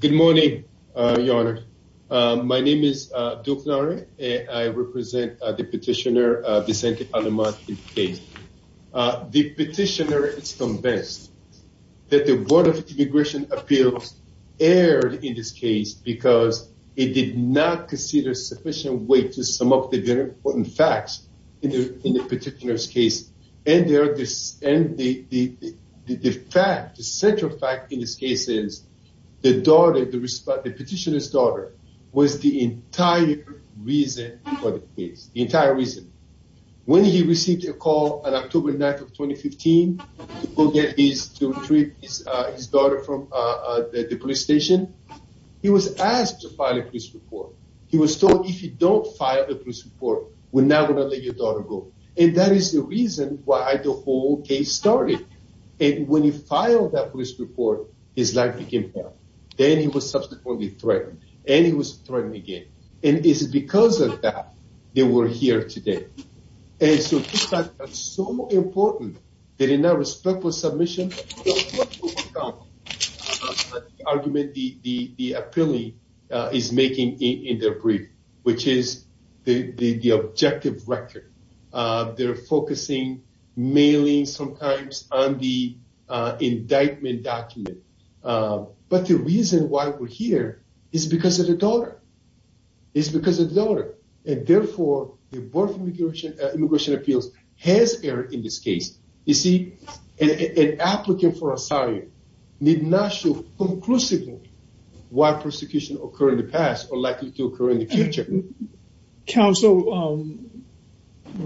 Good morning, Your Honor. My name is Duke Nari and I represent the petitioner Vicente Aleman-Medrano. The petitioner is convinced that the Board of Immigration Appeals erred in this case because it did not consider sufficient weight to sum up the very important facts in the petitioner's case. And the fact, the central fact in this case is the daughter, the petitioner's daughter, was the entire reason for the case. The entire reason. When he received a call on October 9th of 2015 to go get his daughter from the police station, he was asked to file a police report. He was told if you don't file a police report, we're not going to let your daughter go. And that is the reason why the whole case started. And when he filed that police report, his life became hell. Then he was subsequently threatened, and he was threatened again. And it's because of that they were here today. And so it's so important that in that respectful submission, the argument the appellee is making in their brief, which is the objective record. They're focusing, mailing sometimes on the indictment document. But the reason why we're here is because of the daughter. It's because of the daughter. And therefore, the Board of Applicants for Asylum need not show conclusively why persecution occurred in the past or likely to occur in the future. Council,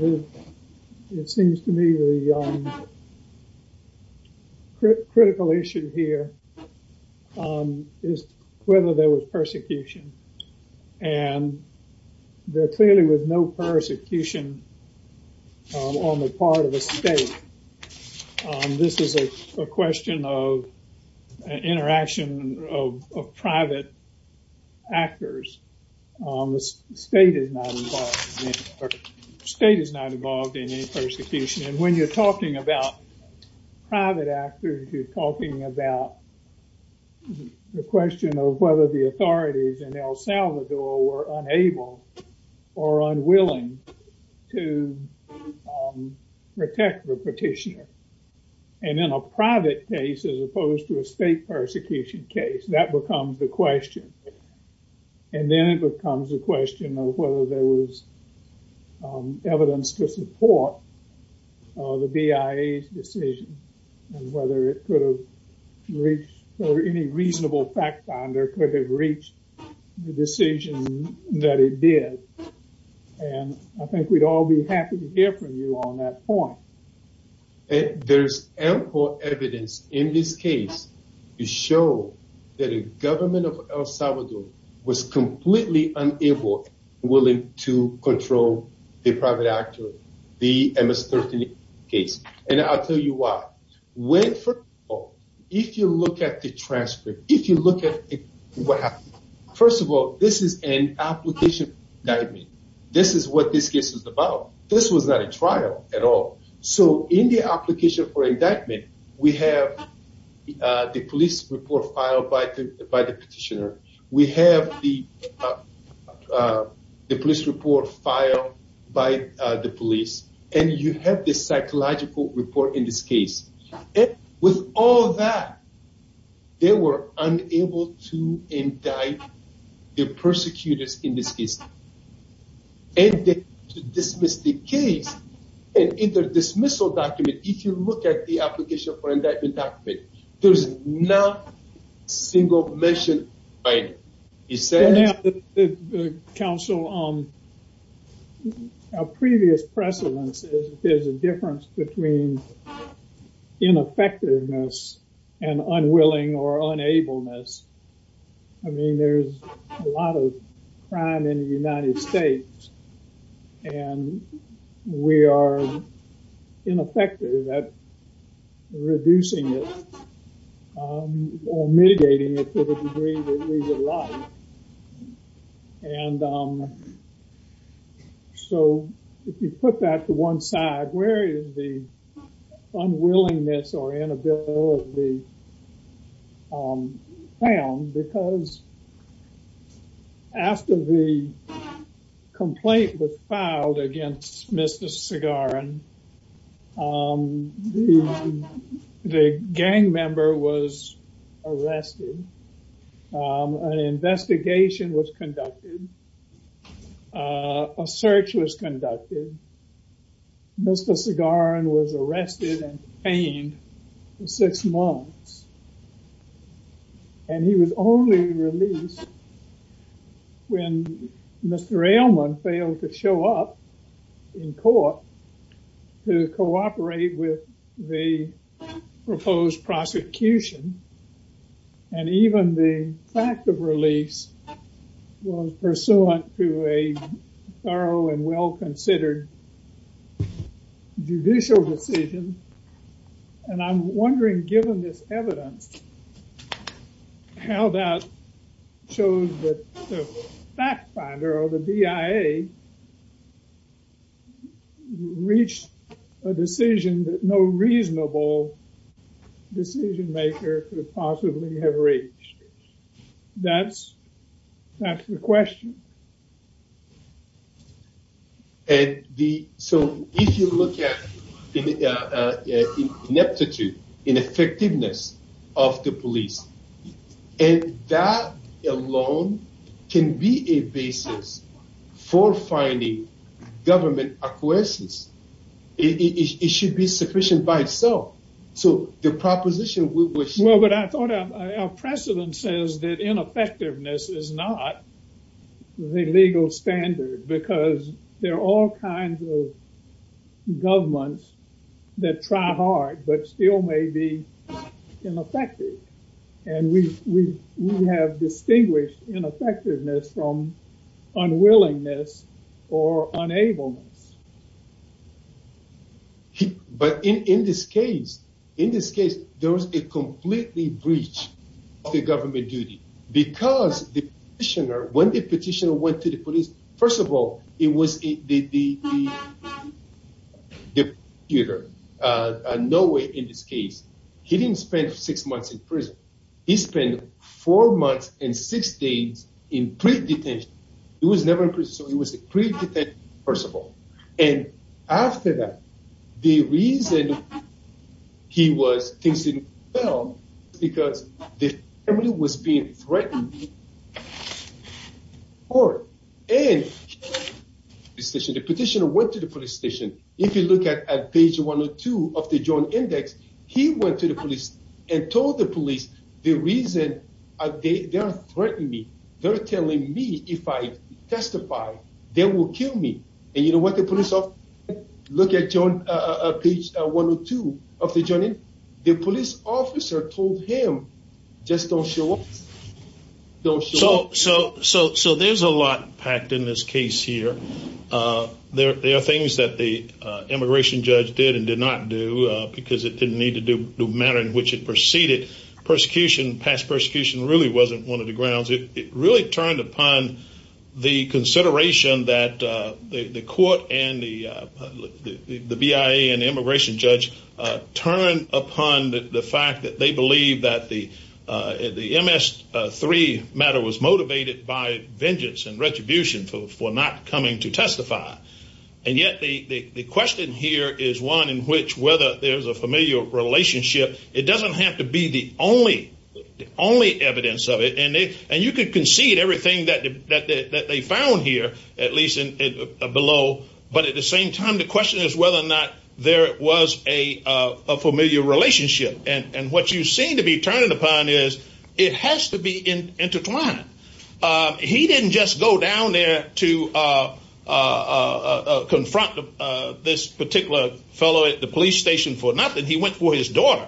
it seems to me the critical issue here is whether there was persecution. And there clearly was no persecution on the part of the state. This is a question of interaction of private actors. The state is not involved. The state is not involved in any persecution. And when you're talking about private actors, you're talking about the question of whether the authorities in El Salvador were unable or unwilling to protect the petitioner. And in a private case, as opposed to a state persecution case, that becomes the question. And then it becomes a question of whether there was evidence to support the BIA's decision and whether it could have reached, or any reasonable fact finder could have reached the decision that it did. And I think we'd all be happy to hear from you on that point. There's ample evidence in this case to show that a government of El Salvador was completely unable, unwilling to control the private actor, the MS-13 case. And I'll tell you why. When for all, if you look at the transcript, if you look at what happened, first of all, this is an application indictment. This is what this case is about. This was not a trial at all. So in the application for indictment, we have the police report filed by the petitioner. We have the police report filed by the police. And you have the psychological report in this case. With all that, they were unable to indict the persecutors in this case. And to dismiss the case, and in the dismissal document, if you look at the application for indictment document, there's not a single mention by it. You see? The council, our previous precedence is a difference between ineffectiveness and unwilling or unableness. I mean, there's a lot of crime in the United States. And we are ineffective at reducing it or mitigating it to the degree that we would like. And so, if you put that to one side, where is the unwillingness or inability found? Because after the complaint was filed against Mr. Segaran, the gang member was arrested. An investigation was conducted. A search was conducted. Mr. Segaran was arrested and detained for six months. And he was only released when Mr. Elman failed to show up in court to cooperate with the proposed prosecution. And even the fact of release was pursuant to a thorough and well-considered judicial decision. And I'm wondering, given this evidence, how that shows that the fact finder or the DIA reached a decision that no reasonable decision maker could possibly have reached. That's the ineffectiveness of the police. And that alone can be a basis for finding government acquiescence. It should be sufficient by itself. So, the proposition was... Well, but I thought our precedence says that ineffectiveness is not the legal standard because there are all kinds of governments that try hard but still may be ineffective. And we have distinguished ineffectiveness from unwillingness or unableness. But in this case, in this case, there was a completely breach of the government duty because the petitioner, when the petitioner went to the police, first of all, it was the prosecutor. No way in this case. He didn't spend six months in prison. He spent four months and six days in pre-detention. He was never in prison. So, he was a pre-detention, first of all. And after that, the reason he was... Because the family was being threatened by the police. The petitioner went to the police station. If you look at page 102 of the joint index, he went to the police and told the police the reason they are threatening me. They're telling me if I testify, they will kill me. And you know what the police officer said? Look at page 102 of the joint index. The police officer told him, just don't show up. So, there's a lot packed in this case here. There are things that the immigration judge did and did not do because it didn't need to do the matter in which it proceeded. Persecution, past persecution, really wasn't one of the grounds. It really turned upon the consideration that the court and the BIA and immigration judge turned upon the fact that they believe that the MS-3 matter was motivated by vengeance and retribution for not coming to testify. And yet, the question here is one in which whether there's a familial relationship, it doesn't have to be the only evidence of it. And you could concede everything that they found here, at least below. But at the same time, the question is whether or not there was a familial relationship. And what you seem to be turning upon is, it has to be intertwined. He didn't just go down there to confront this particular fellow at the police station for nothing. He went for his daughter.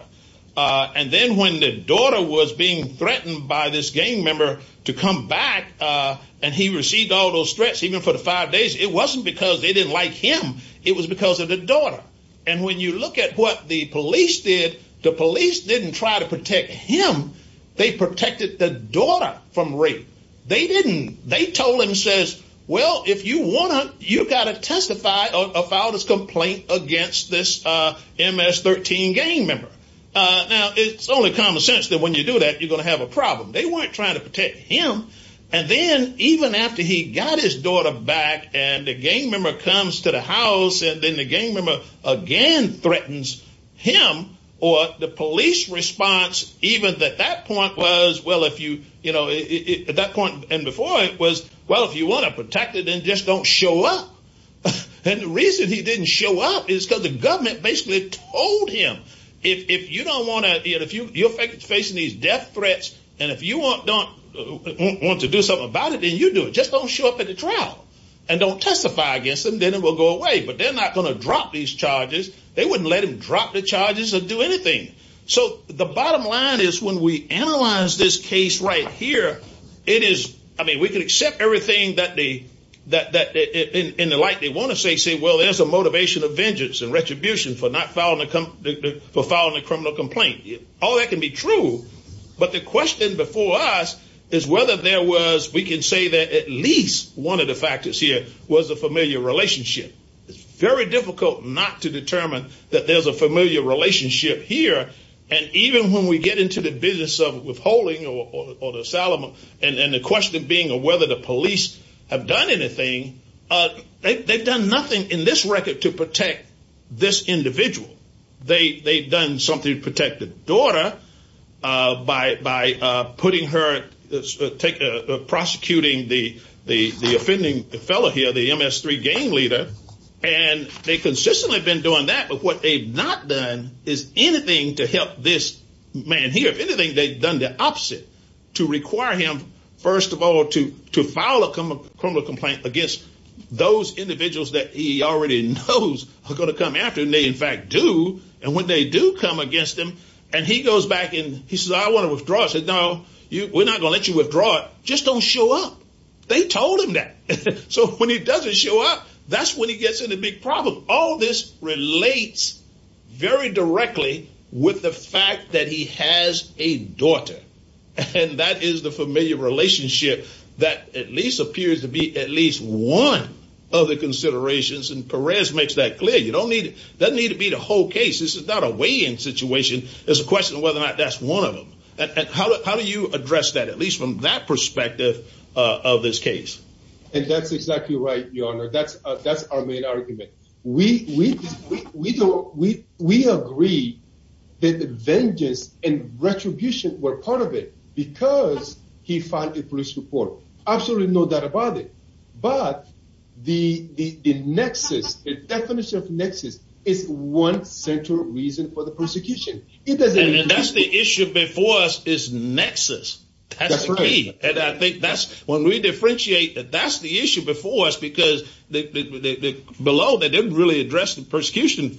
And then when the daughter was being stressed, even for the five days, it wasn't because they didn't like him. It was because of the daughter. And when you look at what the police did, the police didn't try to protect him. They protected the daughter from rape. They didn't. They told him, says, well, if you want to, you've got to testify about his complaint against this MS-13 gang member. Now, it's only common sense that when you do that, you're going to have a problem. They weren't trying to protect him. And then even after he got his daughter back and the gang member comes to the house, and then the gang member again threatens him, or the police response, even at that point was, well, if you, you know, at that point and before it was, well, if you want to protect it, then just don't show up. And the reason he didn't show up is because the government basically told him, if you don't want your face facing these death threats, and if you want to do something about it, then you do it. Just don't show up at the trial and don't testify against them. Then it will go away. But they're not going to drop these charges. They wouldn't let him drop the charges or do anything. So the bottom line is when we analyze this case right here, it is, I mean, we can accept everything in the light they want to say, say, well, there's a motivation of vengeance and retribution for not for filing a criminal complaint. All that can be true. But the question before us is whether there was, we can say that at least one of the factors here was a familiar relationship. It's very difficult not to determine that there's a familiar relationship here. And even when we get into the business of withholding or the settlement, and the question being whether the police have done anything, they've done nothing in this record to protect this individual. They've done something to protect the daughter by putting her, prosecuting the offending fellow here, the MS3 gang leader. And they consistently have been doing that. But what they've not done is anything to help this man here. If anything, they've done the opposite, to require him, first of all, to file a criminal complaint against those individuals that he already knows are going to come after. And they, in fact, do. And when they do come against him and he goes back and he says, I want to withdraw, I said, no, we're not going to let you withdraw. Just don't show up. They told him that. So when he doesn't show up, that's when he gets in a big problem. All this relates very directly with the fact that he has a daughter. And that is the familiar relationship that at least appears to be one of the considerations. And Perez makes that clear. That doesn't need to be the whole case. This is not a weigh-in situation. It's a question of whether or not that's one of them. And how do you address that, at least from that perspective of this case? And that's exactly right, Your Honor. That's our main argument. We agree that vengeance and but the nexus, the definition of nexus is one central reason for the persecution. And that's the issue before us is nexus. That's the key. And I think that's when we differentiate, that's the issue before us because below, they didn't really address the persecution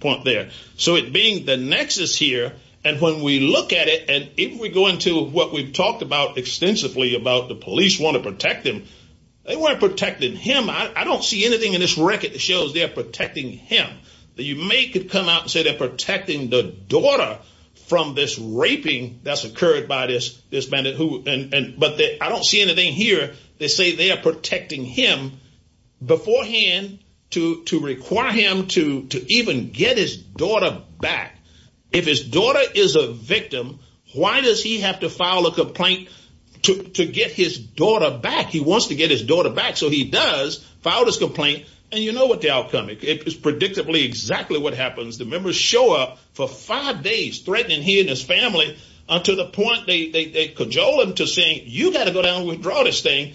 point there. So it being the nexus here, and when we look at it, and if we go into what we've talked extensively about the police want to protect him, they weren't protecting him. I don't see anything in this record that shows they're protecting him. That you may could come out and say they're protecting the daughter from this raping that's occurred by this bandit. But I don't see anything here that say they are protecting him beforehand to require him to even get his daughter back. If his daughter is a victim, why does he have to file a complaint to get his daughter back? He wants to get his daughter back. So he does file this complaint. And you know what the outcome, it is predictably exactly what happens. The members show up for five days threatening he and his family to the point they cajole him to say, you gotta go down and withdraw this thing.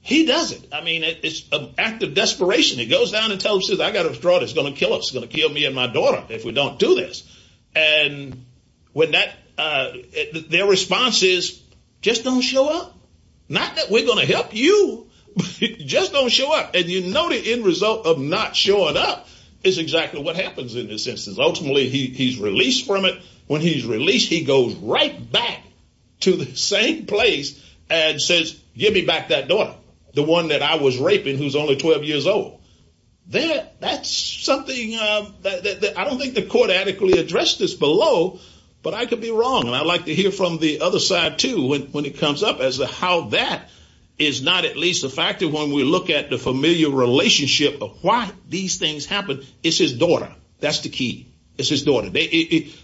He doesn't. I mean, it's an act of desperation. He goes down and tells him, I gotta withdraw, it's gonna kill us, it's gonna kill me and my daughter if we don't do this. And their response is, just don't show up. Not that we're gonna help you, just don't show up. And you know the end result of not showing up is exactly what happens in this instance. Ultimately, he's released from it. When he's released, he goes right back to the same place and says, give me back that daughter, the one that I was raping who's only 12 years old. There, that's something that I don't think the court adequately addressed this below, but I could be wrong. And I'd like to hear from the other side too when it comes up as to how that is not at least a factor when we look at the familiar relationship of why these things happen. It's his daughter. That's the key. It's his daughter. They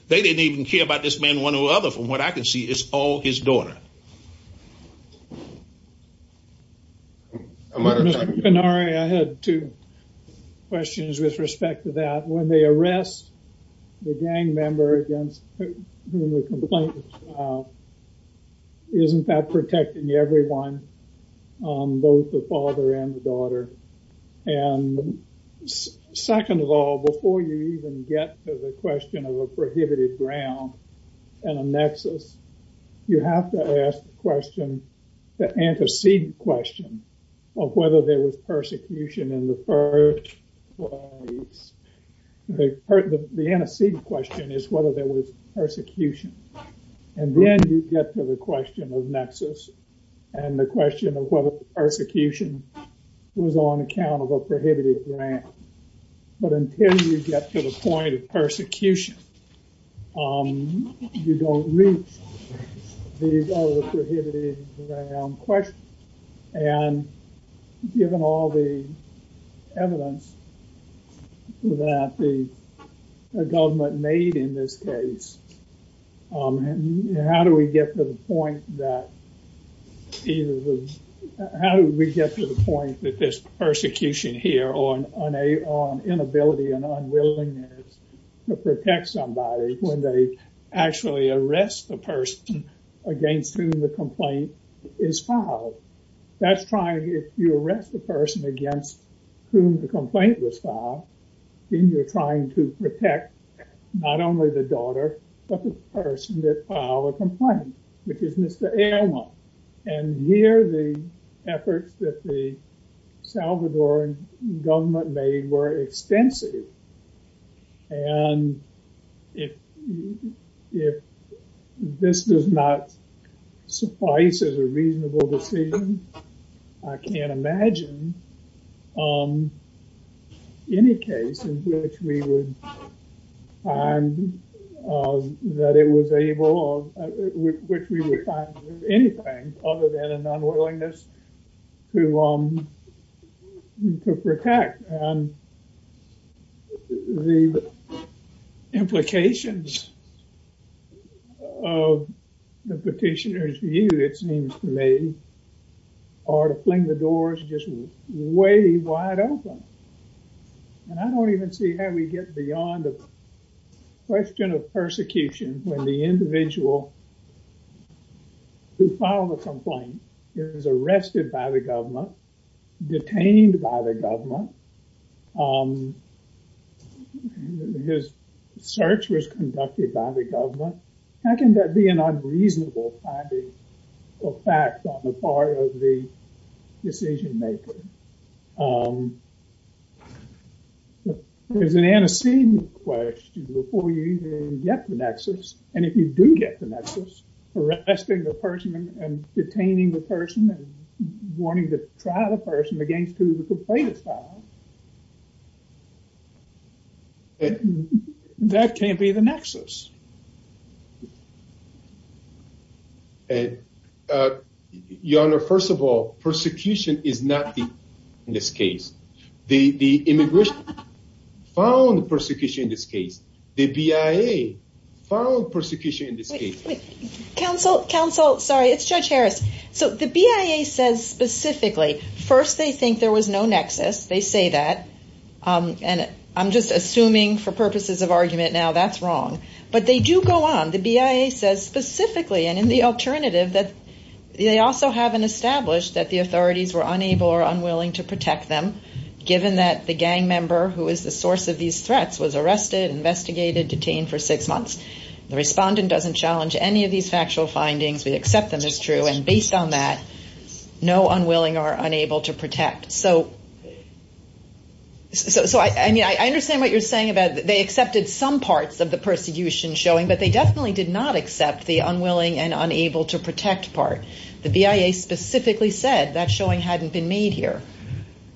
didn't even care about this man one way or the other from what I can see, it's all his daughter. I had two questions with respect to that. When they arrest the gang member against whom the complaint is about, isn't that protecting everyone, both the father and the daughter? And second of all, before you even get to the question of a prohibited ground and a nexus, you have to ask the question, the antecedent question of whether there was persecution in the first place. The antecedent question is whether there was persecution. And then you get to the question of nexus and the question of whether persecution was on account of a prohibited ground. But until you get to the point of persecution, you don't reach these other prohibited ground questions. And given all the evidence that the government made in this case, how do we get to the point that either, how do we get to the point that this persecution here on inability and unwillingness to protect somebody when they actually arrest the person against whom the complaint is filed? That's trying, if you arrest the person against whom the complaint was filed, then you're trying to protect not only the daughter, but the person that filed a complaint, which is Mr. Ayala. And here, the efforts that the Salvadoran government made were extensive. And if this does not suffice as a reasonable decision, I can't imagine any case in which we would find that it was able, which we would find anything other than an unwillingness to protect. And the implications of the petitioner's view, it seems to me, are to fling the doors just way wide open. And I don't even see how we get beyond the question of persecution when the individual who filed a complaint is arrested by the government, detained by the government. His search was conducted by the government. How can that be an unreasonable finding of fact on the part of the decision maker? There's an antecedent question before you even get the nexus. And if you do get the nexus, arresting the person and detaining the person and wanting to try the person against who the plaintiff filed, that can't be the nexus. Your Honor, first of all, persecution is not in this case. The immigration found persecution in this case. The BIA found persecution in this case. Counsel, sorry, it's Judge Harris. So the BIA says specifically, first, they think there was no nexus. They say that. And I'm just assuming for purposes of argument now, that's wrong. But they do go on. The BIA says specifically, and in the alternative, that they also haven't established that the authorities were unable or unwilling to protect them, given that the gang member who is the source of these threats was arrested, investigated, detained for six months. The respondent doesn't challenge any of these So I understand what you're saying about they accepted some parts of the persecution showing, but they definitely did not accept the unwilling and unable to protect part. The BIA specifically said that showing hadn't been made here.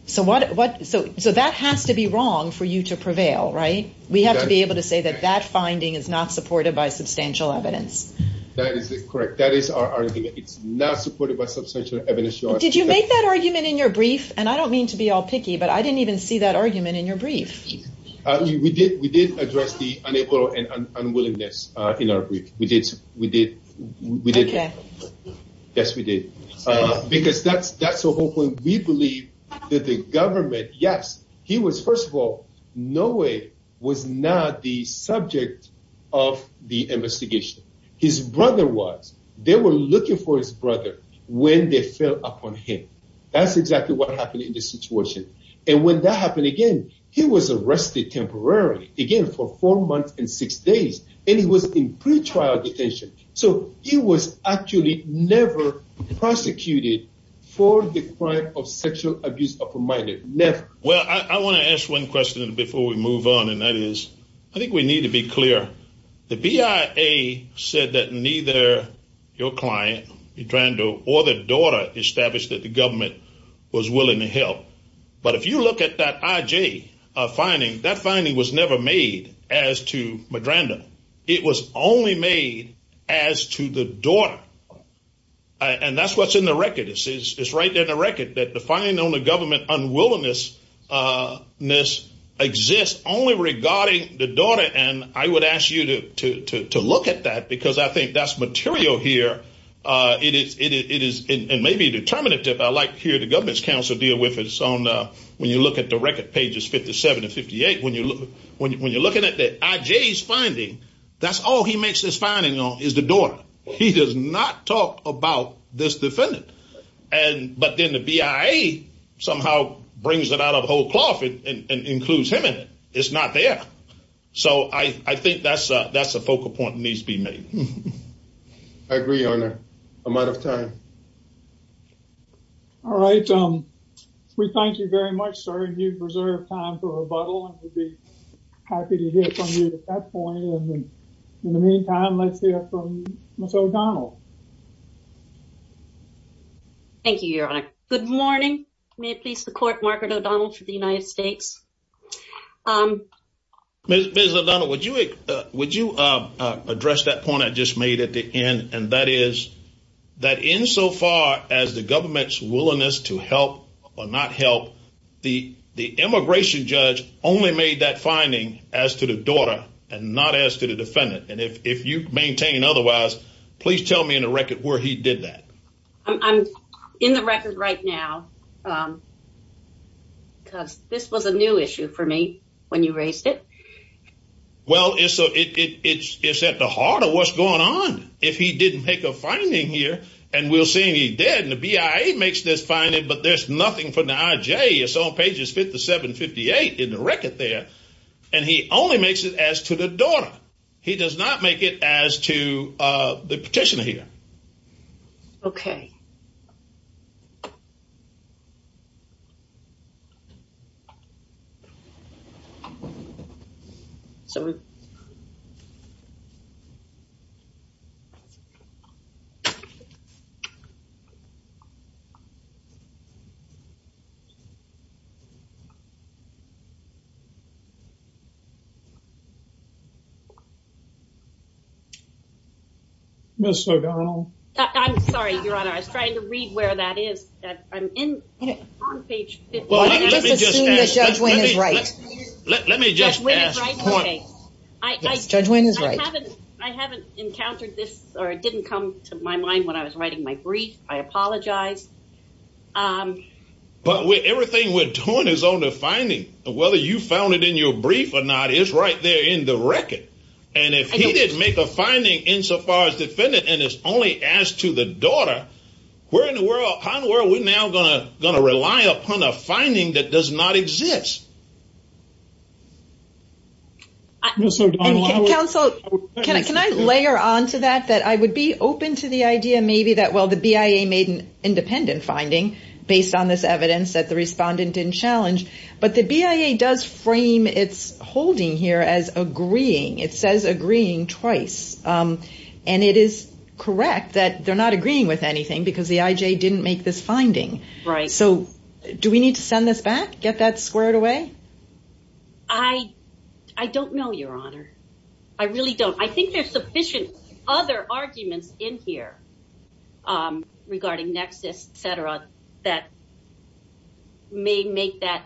So that has to be wrong for you to prevail, right? We have to be able to say that that finding is not supported by substantial evidence. That is correct. That is our argument. It's not supported by substantial evidence, Your Honor. Did you make that argument in your brief? And I don't mean to be all picky, but I didn't even see that argument in your brief. We did. We did address the unable and unwillingness in our brief. We did. We did. Yes, we did. Because that's the whole point. We believe that the government, yes, he was, first of all, Noe was not the subject of the investigation. His brother was. They were looking for his brother when they fell upon him. That's exactly what happened in this situation. And when that happened again, he was arrested temporarily again for four months and six days. And he was in pretrial detention. So he was actually never prosecuted for the crime of sexual abuse of a minor. Never. Well, I want to ask one question before we move on, and that is, I think we need to be clear. The BIA said that neither your client, Madrando, or the daughter established that the government was willing to help. But if you look at that IJ finding, that finding was never made as to Madrando. It was only made as to the daughter. And that's what's in the record. It's right there in the record that the finding on the record is only regarding the daughter. And I would ask you to look at that, because I think that's material here. It is, and maybe determinative. I like to hear the government's counsel deal with it. When you look at the record, pages 57 and 58, when you're looking at the IJ's finding, that's all he makes this finding on, is the daughter. He does not talk about this defendant. But then the BIA somehow brings it out of the whole cloth and includes him in it. It's not there. So I think that's a focal point that needs to be made. I agree on that. I'm out of time. All right. We thank you very much, sir. You've reserved time for rebuttal, and we'd be happy to hear from you at that point. In the meantime, let's hear from Ms. O'Donnell. Thank you, Your Honor. Good morning. May it please the Court, Margaret O'Donnell for the United States. Ms. O'Donnell, would you address that point I just made at the end, and that is that insofar as the government's willingness to help or not help, the immigration judge only made that finding as to the daughter and not as to the defendant. And if you maintain otherwise, please tell me in the record where he did that. I'm in the record right now, because this was a new issue for me when you raised it. Well, it's at the heart of what's going on. If he didn't make a finding here, and we'll say he did, and the BIA makes this finding, but there's nothing for the IJ. It's on pages 57, 58 in the record there. And he only makes it as to the daughter. He does not make it as to the petitioner here. Okay. Ms. O'Donnell. I'm sorry, Your Honor. I was trying to read where that is. I'm on page 57. Well, let me just ask. Let me just ask. Judge Wayne is right. I haven't encountered this, or it didn't come to my mind when I was writing my brief. I apologize. But everything we're doing is on the finding. Whether you found it in your brief or not, it's right there in the record. And if he didn't make a finding insofar as defendant, and it's only as to the daughter, how in the world we're now going to rely upon a finding that does not exist? Ms. O'Donnell. Counsel, can I layer onto that, that I would be open to the idea maybe that, well, the BIA made an independent finding based on this evidence that the respondent didn't challenge, but the BIA does its holding here as agreeing. It says agreeing twice. And it is correct that they're not agreeing with anything because the IJ didn't make this finding. So do we need to send this back, get that squared away? Ms. O'Donnell. I don't know, Your Honor. I really don't. I think there's sufficient other arguments in here regarding nexus, et cetera, that may make that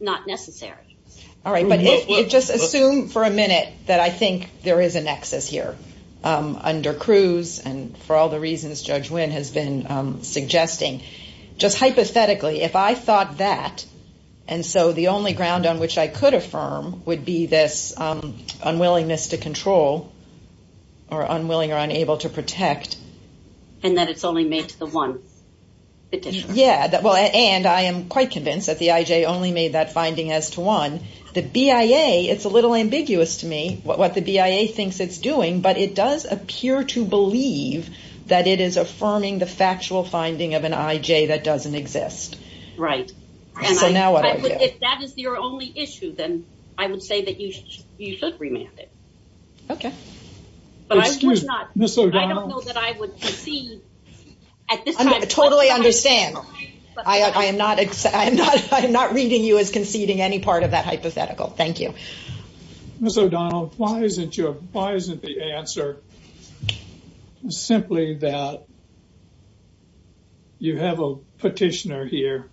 not necessary. All right. But just assume for a minute that I think there is a nexus here under Cruz. And for all the reasons Judge Wynn has been suggesting, just hypothetically, if I thought that, and so the only ground on which I could affirm would be this unwillingness to control or unwilling or unable to protect. And that it's only made to the one. Yeah. And I am quite convinced that the IJ only made that finding as to one. The BIA, it's a little ambiguous to me what the BIA thinks it's doing, but it does appear to believe that it is affirming the factual finding of an IJ that doesn't exist. Right. So now what do I do? If that is your only issue, then I would say that you should remand it. Okay. Excuse me, Ms. O'Donnell. I don't know that I would concede at this time. Totally understand. I am not reading you as conceding any part of that hypothetical. Thank you. Ms. O'Donnell, why isn't the answer simply that you have a petitioner here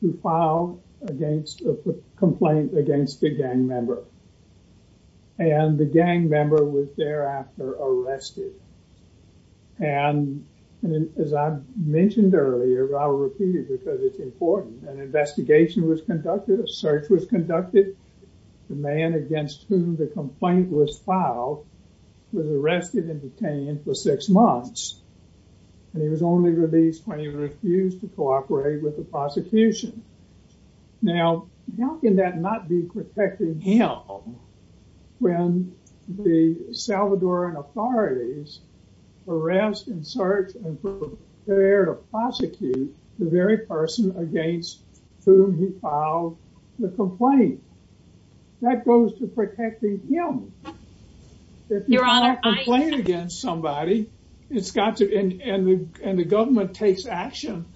who filed a complaint against a gang member and the gang member was thereafter arrested? And as I mentioned earlier, I'll repeat it because it's important, an investigation was conducted, a search was conducted. The man against whom the complaint was filed was arrested and detained for six months. And he was only released when he refused to cooperate with the prosecution. Now, how can that not be protecting him when the Salvadoran authorities arrest and search and prepare to prosecute the very person against whom he filed the complaint? That goes to protecting him. If you file a complaint against somebody, and the government takes action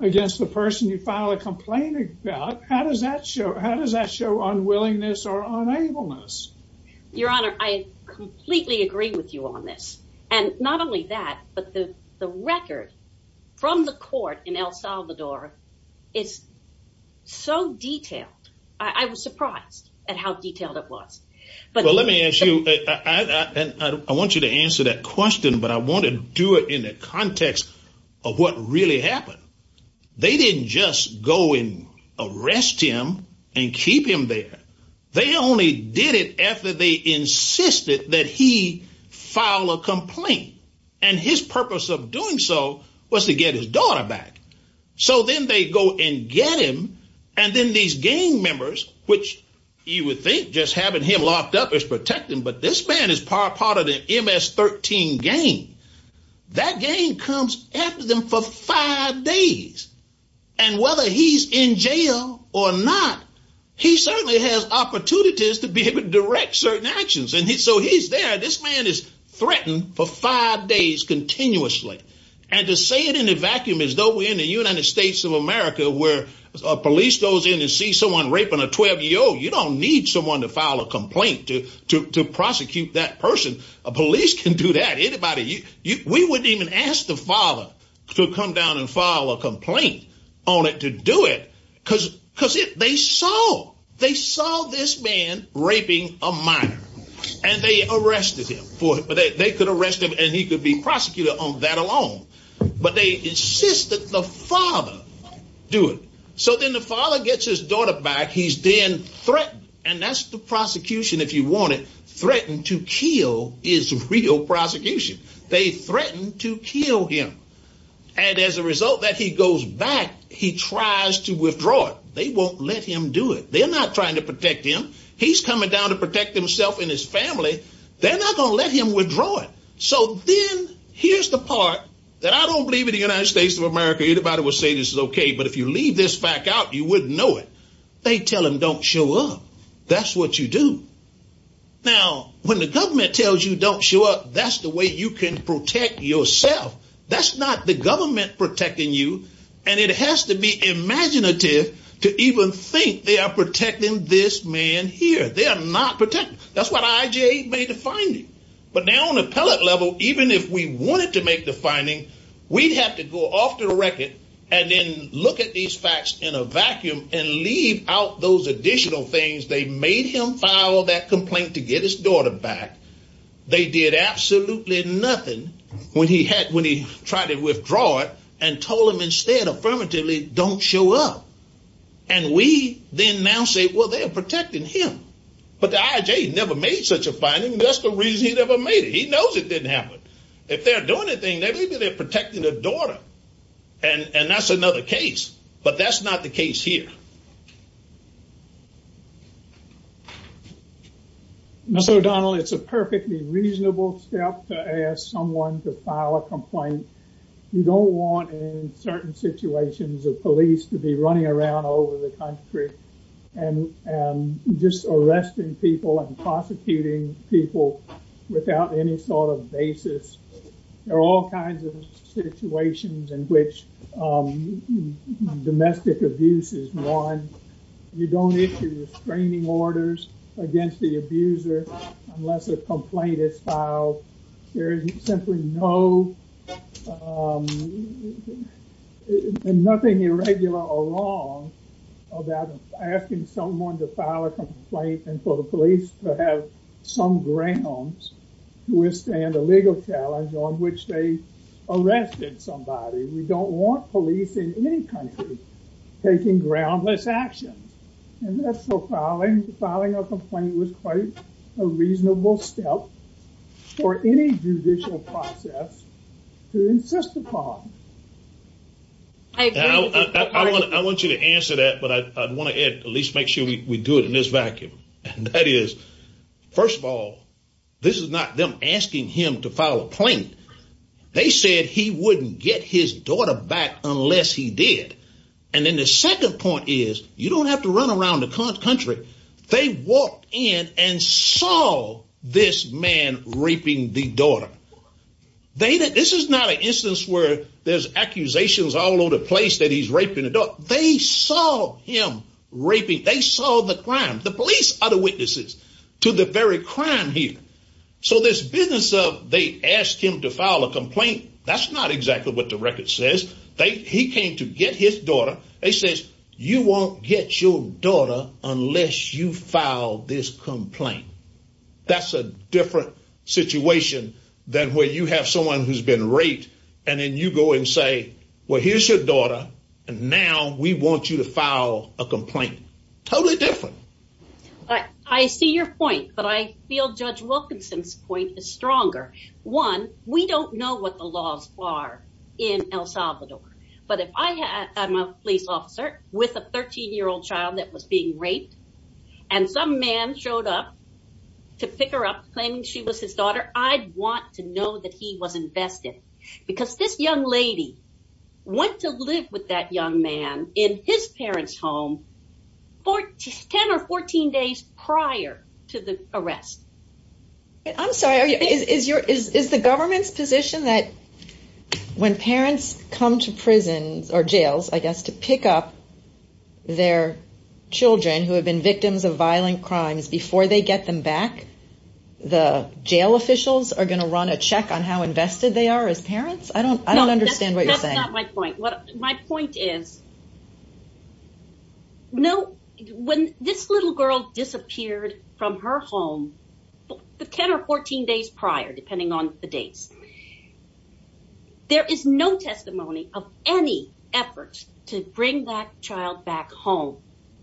against the person you file a complaint about, how does that show unwillingness or unableness? Your Honor, I completely agree with you on this. And not only that, but the record from the court in El Salvador is so detailed. I was surprised at how detailed it was. But let me ask you, I want you to answer that question, but I want to do it in the context of what really happened. They didn't just go and arrest him and keep him there. They only did it after they insisted that he file a complaint. And his purpose of doing so was to get his daughter back. So then they go and get him. And then these gang members, which you would think just having him locked up is protecting, but this man is part of the MS-13 gang. That gang comes after them for five days. And whether he's in jail or not, he certainly has opportunities to be able to direct certain actions. And so he's there. This man is threatened for five days continuously. And to say it in a vacuum as though we're in the United States of America where a police goes in and sees someone raping a 12-year-old, you don't need someone to file a complaint to prosecute that person. A police can do that. We wouldn't even ask the father to come down and file a complaint on it to do it, because they saw this man raping a minor. And they arrested him for it. But they could arrest him, and he could be prosecuted on that alone. But they insisted the father do it. So then the father gets his daughter back. He's then threatened. And that's the prosecution if you want it. Threatened to kill is real prosecution. They threatened to kill him. And as a result that he goes back, he tries to withdraw it. They won't let him do it. They're not trying to protect him. He's coming down to protect himself and his family. They're not going to let him withdraw it. So then here's the part that I don't believe in the United States of America. Anybody would say this is OK. But if you leave this fact out, you wouldn't know it. They tell them don't show up. That's what you do. Now, when the government tells you don't show up, that's the way you can protect yourself. That's not the government protecting you. And it has to be imaginative to even think they are protecting this man here. They are not protecting. That's what IJ made the finding. But now on the appellate level, even if we wanted to make the finding, and leave out those additional things, they made him file that complaint to get his daughter back. They did absolutely nothing when he tried to withdraw it and told him instead, affirmatively, don't show up. And we then now say, well, they are protecting him. But the IJ never made such a finding. That's the reason he never made it. He knows it didn't happen. If they're doing anything, maybe they're protecting their daughter. And that's another case. But that's not the case here. So, Donald, it's a perfectly reasonable step to ask someone to file a complaint. You don't want in certain situations of police to be running around over the country and just arresting people and prosecuting people without any sort of basis. There are all kinds of situations in which domestic abuse is one. You don't issue restraining orders against the abuser unless a complaint is filed. There is simply no, nothing irregular or wrong about asking someone to file a complaint and for the police to have some grounds to withstand a legal challenge on which they arrested somebody. We don't want police in any country taking groundless actions. And that's so filing, filing a complaint was quite a reasonable step for any judicial process to insist upon. I want you to answer that, but I want to at least make sure we do it in this vacuum. That is, first of all, this is not them asking him to file a complaint. They said he wouldn't get his daughter back unless he did. And then the second point is, you don't have to run around the country. They walked in and saw this man raping the daughter. This is not an instance where there's accusations all over the place that he's raping a daughter. They saw him raping. They saw the crime. The police are the witnesses to the very crime here. So this business of they asked him to file a complaint, that's not exactly what the record says. They, he came to get his daughter. They says, you won't get your daughter unless you file this complaint. That's a different situation than where you have someone who's been raped. And then you go and say, well, here's your daughter. And now we want you to file a complaint. Totally different. I see your point. But I feel Judge Wilkinson's point is stronger. One, we don't know what the laws are in El Salvador. But if I am a police officer with a 13-year-old child that was being raped and some man showed up to pick her up claiming she was his daughter, I'd want to know that he was invested. Because this young lady went to live with that young man in his parents' home for 10 or 14 days prior to the arrest. I'm sorry, is the government's position that when parents come to prisons or jails, I guess, to pick up their children who have been victims of violent crimes before they get them back, the jail officials are going to run a check on how invested they are as parents? I don't understand what you're saying. That's not my point. My point is, when this little girl disappeared from her home 10 or 14 days prior, depending on the dates, there is no testimony of any effort to bring that child back home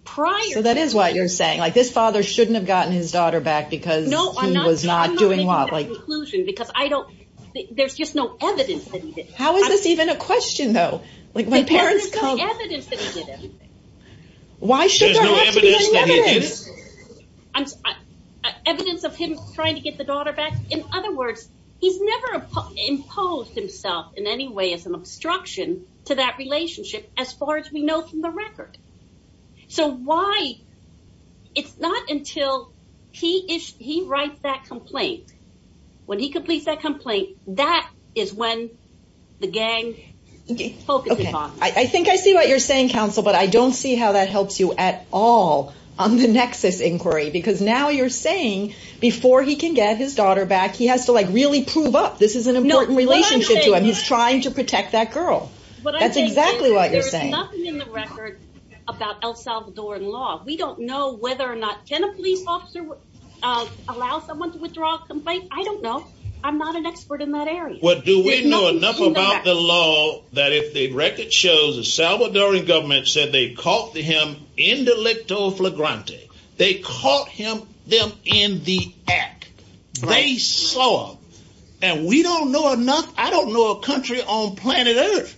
prior. So that is what you're saying. This father shouldn't have gotten his daughter back because he was not doing well. No, I'm not making that conclusion. There's just no evidence that he did. How is this even a question, though? There's no evidence that he did anything. Why should there have to be evidence? There's no evidence that he did anything. Evidence of him trying to get the daughter back? In other words, he's never imposed himself in any way as an obstruction to that relationship as far as we know from the record. So it's not until he writes that complaint, when he completes that complaint, that is when the gang focuses on him. I think I see what you're saying, counsel, but I don't see how that helps you at all on the nexus inquiry. Because now you're saying before he can get his daughter back, he has to really prove up this is an important relationship to him. He's trying to protect that girl. That's exactly what you're saying. There's nothing in the record about El Salvadoran law. We don't know whether or not, can a police officer allow someone to withdraw a complaint? I don't know. I'm not an expert in that area. Well, do we know enough about the law that if the record shows the Salvadoran government said they caught him indelicto flagrante, they caught them in the act? They saw him. And we don't know enough, I don't know a country on planet Earth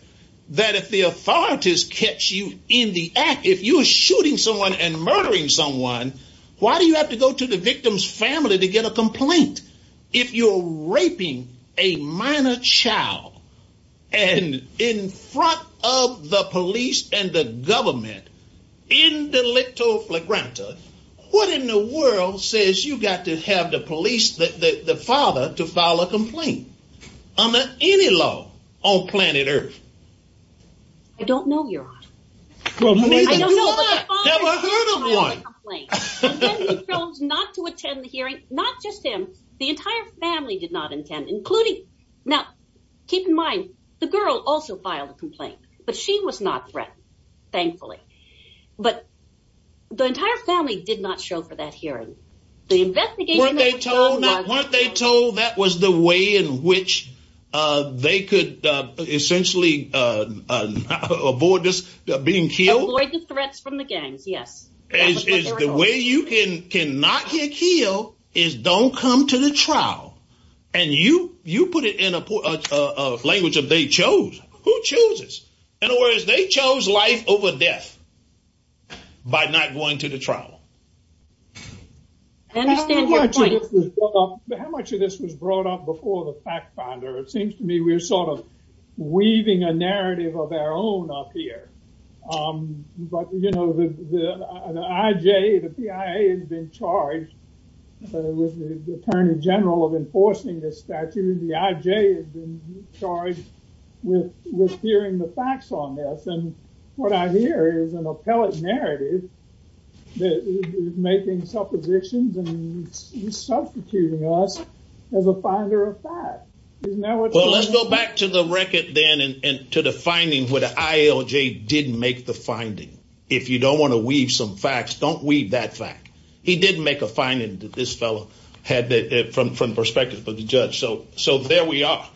that if the authorities catch you in the act, if you were shooting someone and murdering someone, why do you have to go to the victim's family to get a complaint? If you're raping a minor child and in front of the police and the government, indelicto flagrante, what in the world says you got to have the police, the father, to file a complaint under any law on planet Earth? I don't know, Your Honor. I don't know, but the father did file a complaint, and then he chose not to attend the hearing. Not just him, the entire family did not intend, including, now, keep in mind, the girl also filed a complaint, but she was not threatened, thankfully. But the entire family did not show for that hearing. The investigation- Weren't they told that was the way in which they could essentially avoid being killed? Avoid the threats from the gangs, yes. The way you can not get killed is don't come to the trial. And you put it in a language of they chose. Who chose this? In other words, they chose life over death by not going to the trial. I don't understand your point. How much of this was brought up before the fact finder? It seems to me we're sort of weaving a narrative of our own up here. But, you know, the IJ, the PIA has been charged with the Attorney General of enforcing this statute, and the IJ has been charged with hearing the facts on this. What I hear is an appellate narrative that is making suppositions and substituting us as a finder of fact. Let's go back to the record, then, and to the finding where the ILJ did make the finding. If you don't want to weave some facts, don't weave that fact. He did make a finding that this fellow had from the perspective of the judge. So there we are.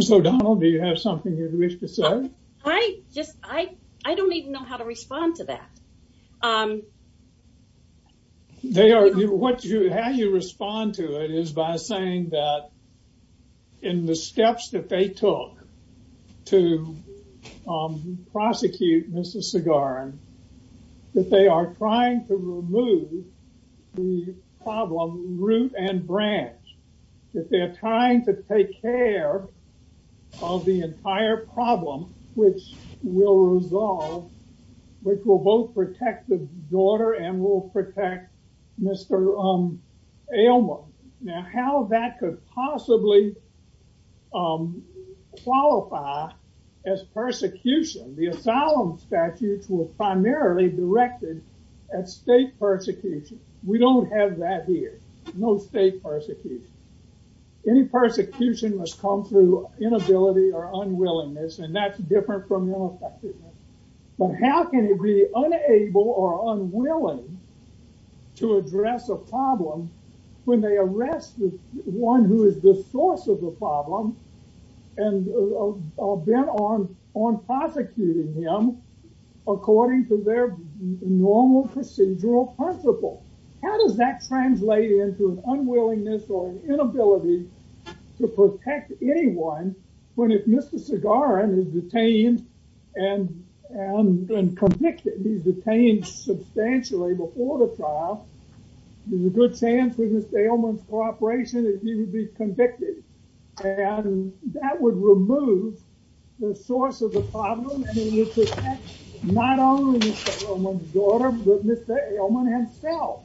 So, Donald, do you have something you'd wish to say? I just I I don't even know how to respond to that. They are what you how you respond to it is by saying that in the steps that they took to prosecute Mr. Segaran, that they are trying to remove the problem root and branch. That they're trying to take care of the entire problem, which will resolve, which will both protect the daughter and will protect Mr. Elmer. Now, how that could possibly qualify as persecution. The asylum statutes were primarily directed at state persecution. We don't have that here. No state persecution. Any persecution must come through inability or unwillingness, and that's different from arresting one who is the source of the problem and are bent on on prosecuting him according to their normal procedural principle. How does that translate into an unwillingness or an inability to protect anyone when if Mr. Segaran is detained and convicted, he's detained substantially before the trial, there's a good chance with Mr. Elman's cooperation that he would be convicted. And that would remove the source of the problem. Not only the daughter, but Mr. Elman himself.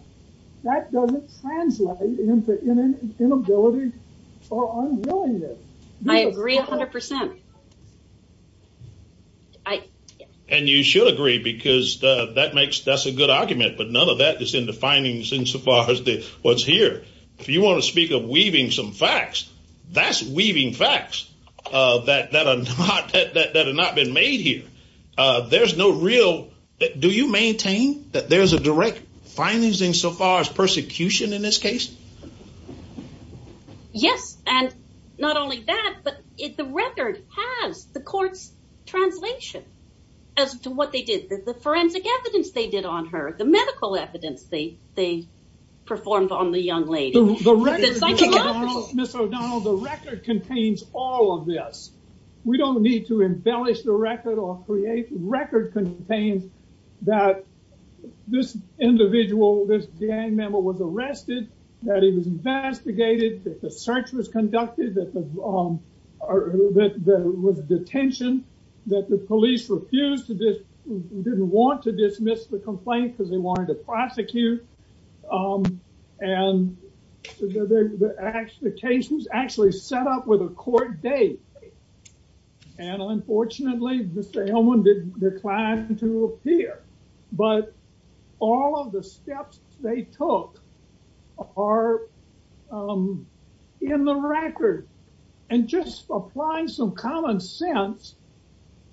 That doesn't translate into inability or unwillingness. I agree 100%. And you should agree, because that makes that's a good argument. But none of that is in the findings insofar as what's here. If you want to speak of weaving some facts, that's weaving facts that have not been made here. Do you maintain that there's a direct findings insofar as persecution in this case? Yes, and not only that, but the record has the court's translation as to what they did, the forensic evidence they did on her, the medical evidence they performed on the young lady. Ms. O'Donnell, the record contains all of this. We don't need to embellish the record or create. Record contains that this individual, this gang member was arrested, that he was investigated, that the search was conducted, that there was detention, that the police refused to, didn't want to dismiss the complaint because they wanted to prosecute. And the case was actually set up with a court date. And unfortunately, Mr. Elman did decline to appear. But all of the steps they took are in the record. And just apply some common sense.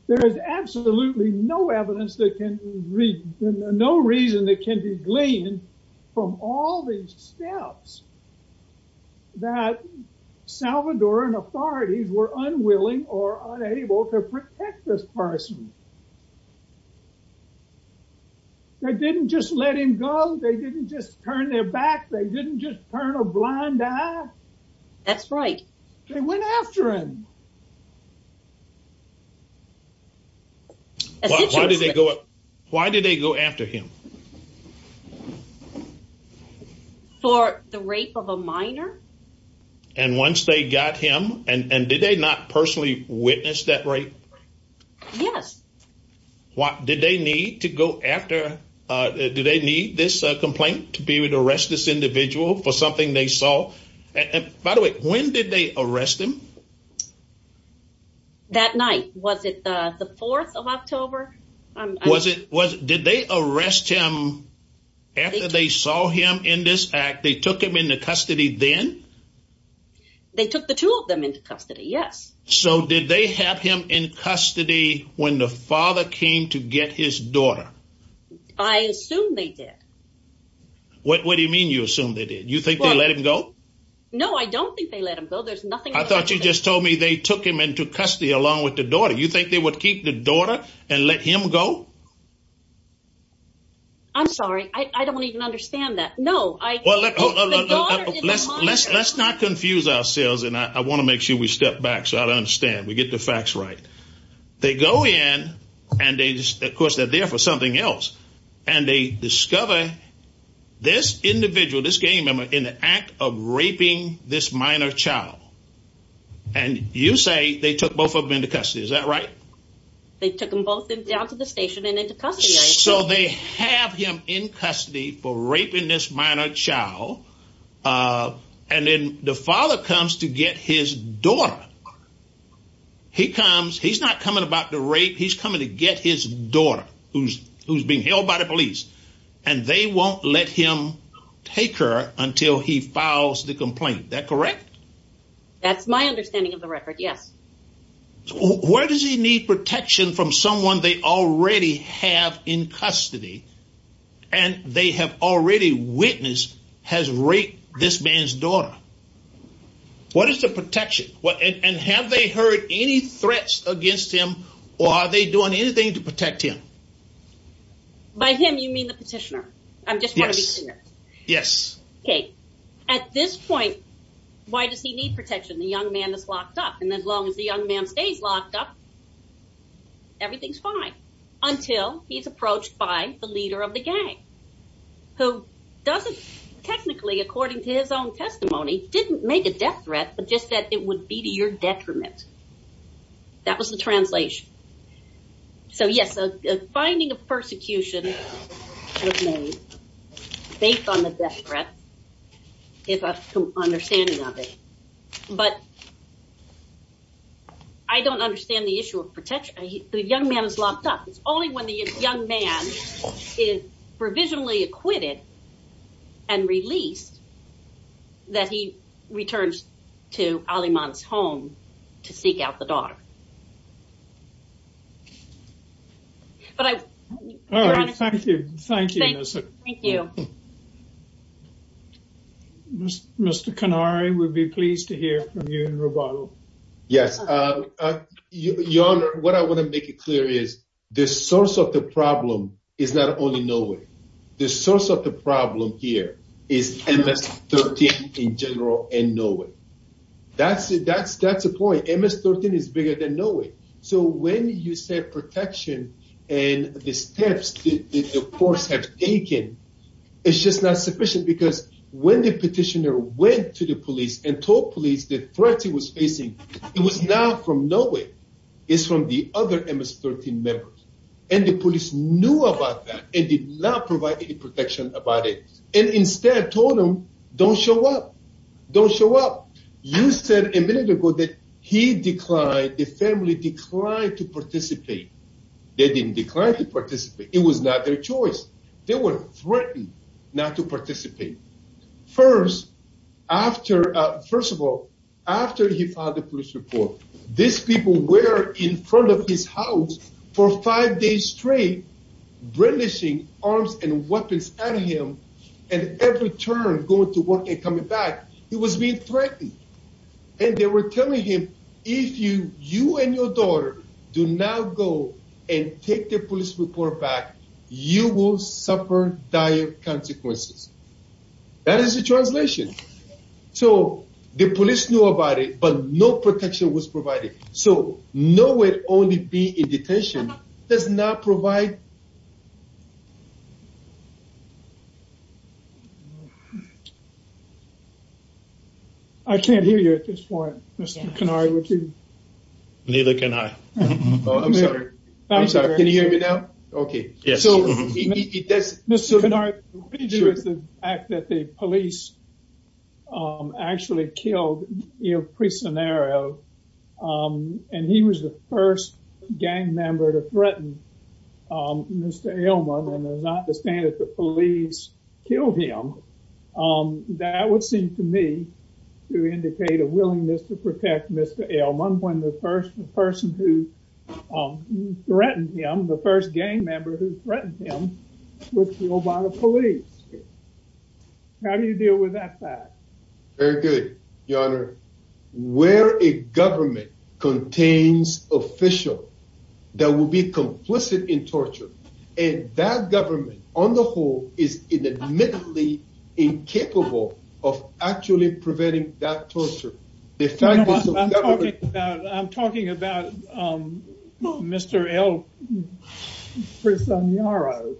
There is absolutely no evidence that can read, no reason that can be gleaned from all these steps that Salvadoran authorities were unwilling or unable to protect this person. They didn't just let him go. They didn't just turn their back. They didn't just turn a blind eye. That's right. They went after him. Why did they go after him? For the rape of a minor. And once they got him, and did they not personally witness that rape? Yes. Did they need to go after, do they need this complaint to be able to arrest this By the way, when did they arrest him? That night. Was it the 4th of October? Did they arrest him after they saw him in this act? They took him into custody then? They took the two of them into custody. Yes. So did they have him in custody when the father came to get his daughter? I assume they did. What do you mean you assume they did? You think they let him go? No, I don't think they let him go. There's nothing. I thought you just told me they took him into custody along with the daughter. You think they would keep the daughter and let him go? I'm sorry. I don't even understand that. No. Let's not confuse ourselves. And I want to make sure we step back so I don't understand. We get the facts right. They go in and they just, of course, they're there for something else. And they discover this individual, this gang member in the act of raping this minor child. And you say they took both of them into custody. Is that right? They took them both down to the station and into custody. So they have him in custody for raping this minor child. And then the father comes to get his daughter. He comes. He's not coming about the rape. He's coming to get his daughter who's being held by the police. And they won't let him take her until he files the complaint. That correct? That's my understanding of the record. Yes. Where does he need protection from someone they already have in custody? And they have already witnessed has raped this man's daughter. What is the protection? And have they heard any threats against him? Or are they doing anything to protect him? By him, you mean the petitioner? I'm just wondering. Yes. Okay. At this point, why does he need protection? The young man is locked up. And as long as the young man stays locked up, everything's fine. Until he's approached by the leader of the gang. Who doesn't technically, according to his own testimony, didn't make a death threat. But just that it would be to your detriment. That was the translation. So yes, the finding of persecution, based on the death threat, is an understanding of it. But I don't understand the issue of protection. The young man is locked up. It's only when the young man is provisionally acquitted and released, that he returns to Aliman's home to seek out the daughter. But I... All right. Thank you. Thank you, Melissa. Thank you. Mr. Kanari, we'd be pleased to hear from you in Roboto. Yes. Your Honor, what I want to make it clear is, the source of the problem is not only nobody. The source of the problem here is MS-13 in general, and nowhere. That's the point. MS-13 is bigger than nowhere. So when you say protection, and the steps that the courts have taken, it's just not sufficient. Because when the petitioner went to the police and told police the threat he was facing, it was not from nowhere. It's from the other MS-13 members. And the police knew about that, and did not provide any protection about it. And instead told him, don't show up. Don't show up. You said a minute ago that he declined, the family declined to participate. They didn't decline to participate. It was not their choice. They were threatened not to participate. First, after... First of all, after he filed the police report, these people were in front of his house for five days straight, brandishing arms and weapons at him, and every turn going to work and coming back. He was being threatened. And they were telling him, if you and your daughter do not go and take the police report back, you will suffer dire consequences. That is the translation. So the police knew about it, but no protection was provided. So nowhere only being in detention does not provide... I can't hear you at this point, Mr. Kanari. Neither can I. Oh, I'm sorry. I'm sorry. Can you hear me now? Okay, yes. Mr. Kanari, what do you do with the fact that the police actually killed El Prisonero, and he was the first gang member to threaten Mr. Elman, and as I understand it, the police killed him. That would seem to me to indicate a willingness to protect Mr. Elman when the first person who threatened him, the first gang member who threatened him, was killed by the police. How do you deal with that fact? Very good, Your Honor. Where a government contains official that will be complicit in torture, and that government on the whole is admittedly incapable of actually preventing that torture. The fact is that... I'm talking about Mr. El Prisonero.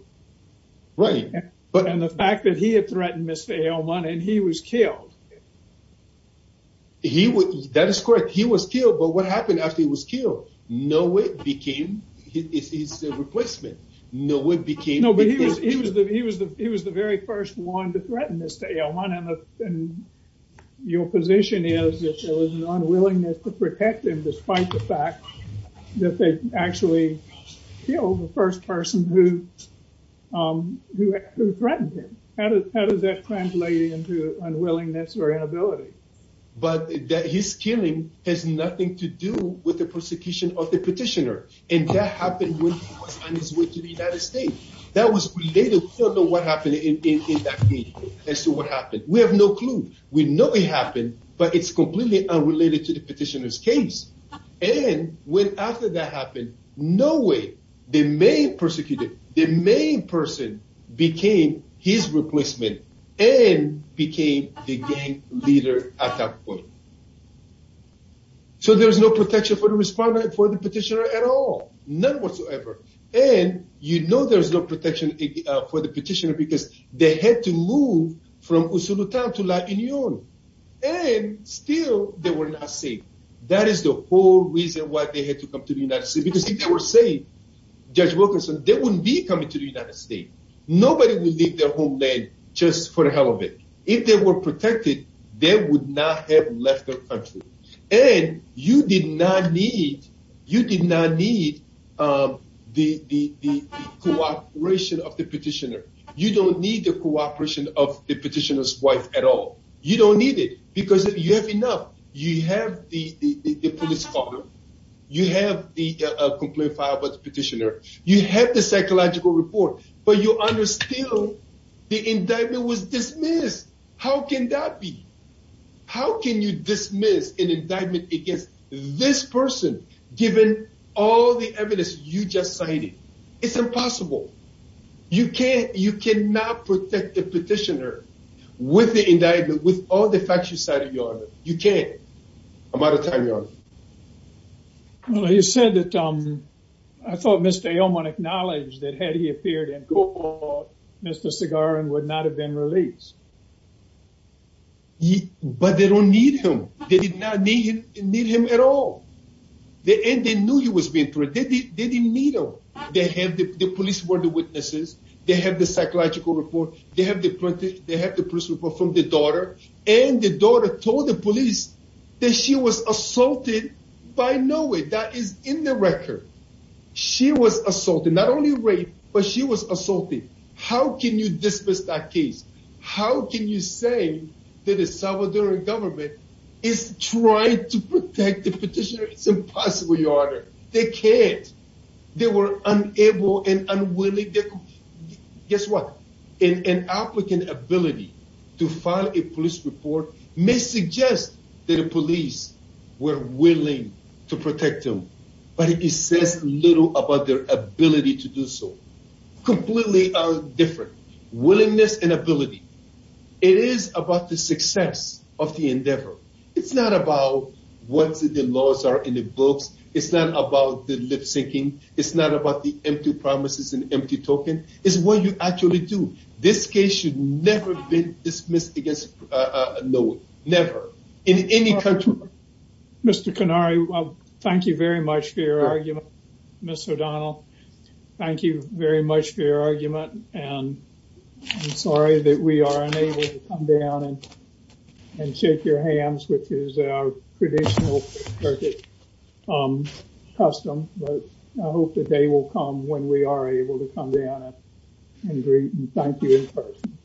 Right. But... And the fact that he had threatened Mr. Elman, and he was killed. That is correct. He was killed, but what happened after he was killed? Nowhere became his replacement. Nowhere became... No, but he was the very first one to threaten Mr. Elman, and your position is that there was an unwillingness to protect him, despite the fact that they actually killed the first person who threatened him. How does that translate into unwillingness or inability? But his killing has nothing to do with the persecution of the petitioner, and that happened when he was on his way to the United States. That was related. We don't know what happened in that meeting as to what happened. We have no clue. We know it happened, but it's completely unrelated to the petitioner's case. And when after that happened, no way, the main persecutor, the main person became his replacement and became the gang leader at that point. So there's no protection for the respondent, for the petitioner at all, none whatsoever. And you know there's no protection for the petitioner because they had to move from Usulutan to La Union, and still they were not safe. That is the whole reason why they had to come to the United States, because if they were safe, Judge Wilkinson, they wouldn't be coming to the United States. Nobody would leave their homeland just for the hell of it. If they were protected, they would not have left their country. And you did not need the cooperation of the petitioner. You don't need the cooperation of the petitioner's wife at all. You don't need it because you have enough. You have the police car, you have the complaint filed by the petitioner, you have the psychological report, but you understand the indictment was dismissed. How can that be? An indictment against this person, given all the evidence you just cited. It's impossible. You can't, you cannot protect the petitioner with the indictment, with all the facts you cited, Your Honor. You can't. I'm out of time, Your Honor. Well, you said that, I thought Mr. Elman acknowledged that had he appeared in court, Mr. Segaran would not have been released. But they don't need him. They did not need him at all. And they knew he was being threatened. They didn't need him. They have the police were the witnesses. They have the psychological report. They have the police report from the daughter. And the daughter told the police that she was assaulted by Noe. That is in the record. She was assaulted, not only raped, but she was assaulted. How can you dismiss that case? How can you say that the Salvadoran government is trying to protect the petitioner? It's impossible, Your Honor. They can't. They were unable and unwilling. Guess what? An applicant ability to file a police report may suggest that the police were willing to protect them, but it says little about their ability to do so. Completely different. Willingness and ability. It is about the success of the endeavor. It's not about what the laws are in the books. It's not about the lip syncing. It's not about the empty promises and empty token. It's what you actually do. This case should never have been dismissed against Noe. Never. In any country. Mr. Kanari, thank you very much for your argument, Ms. O'Donnell. Thank you very much for your argument, and I'm sorry that we are unable to come down and shake your hands, which is our traditional custom, but I hope the day will come when we are able to come down and greet and thank you in person.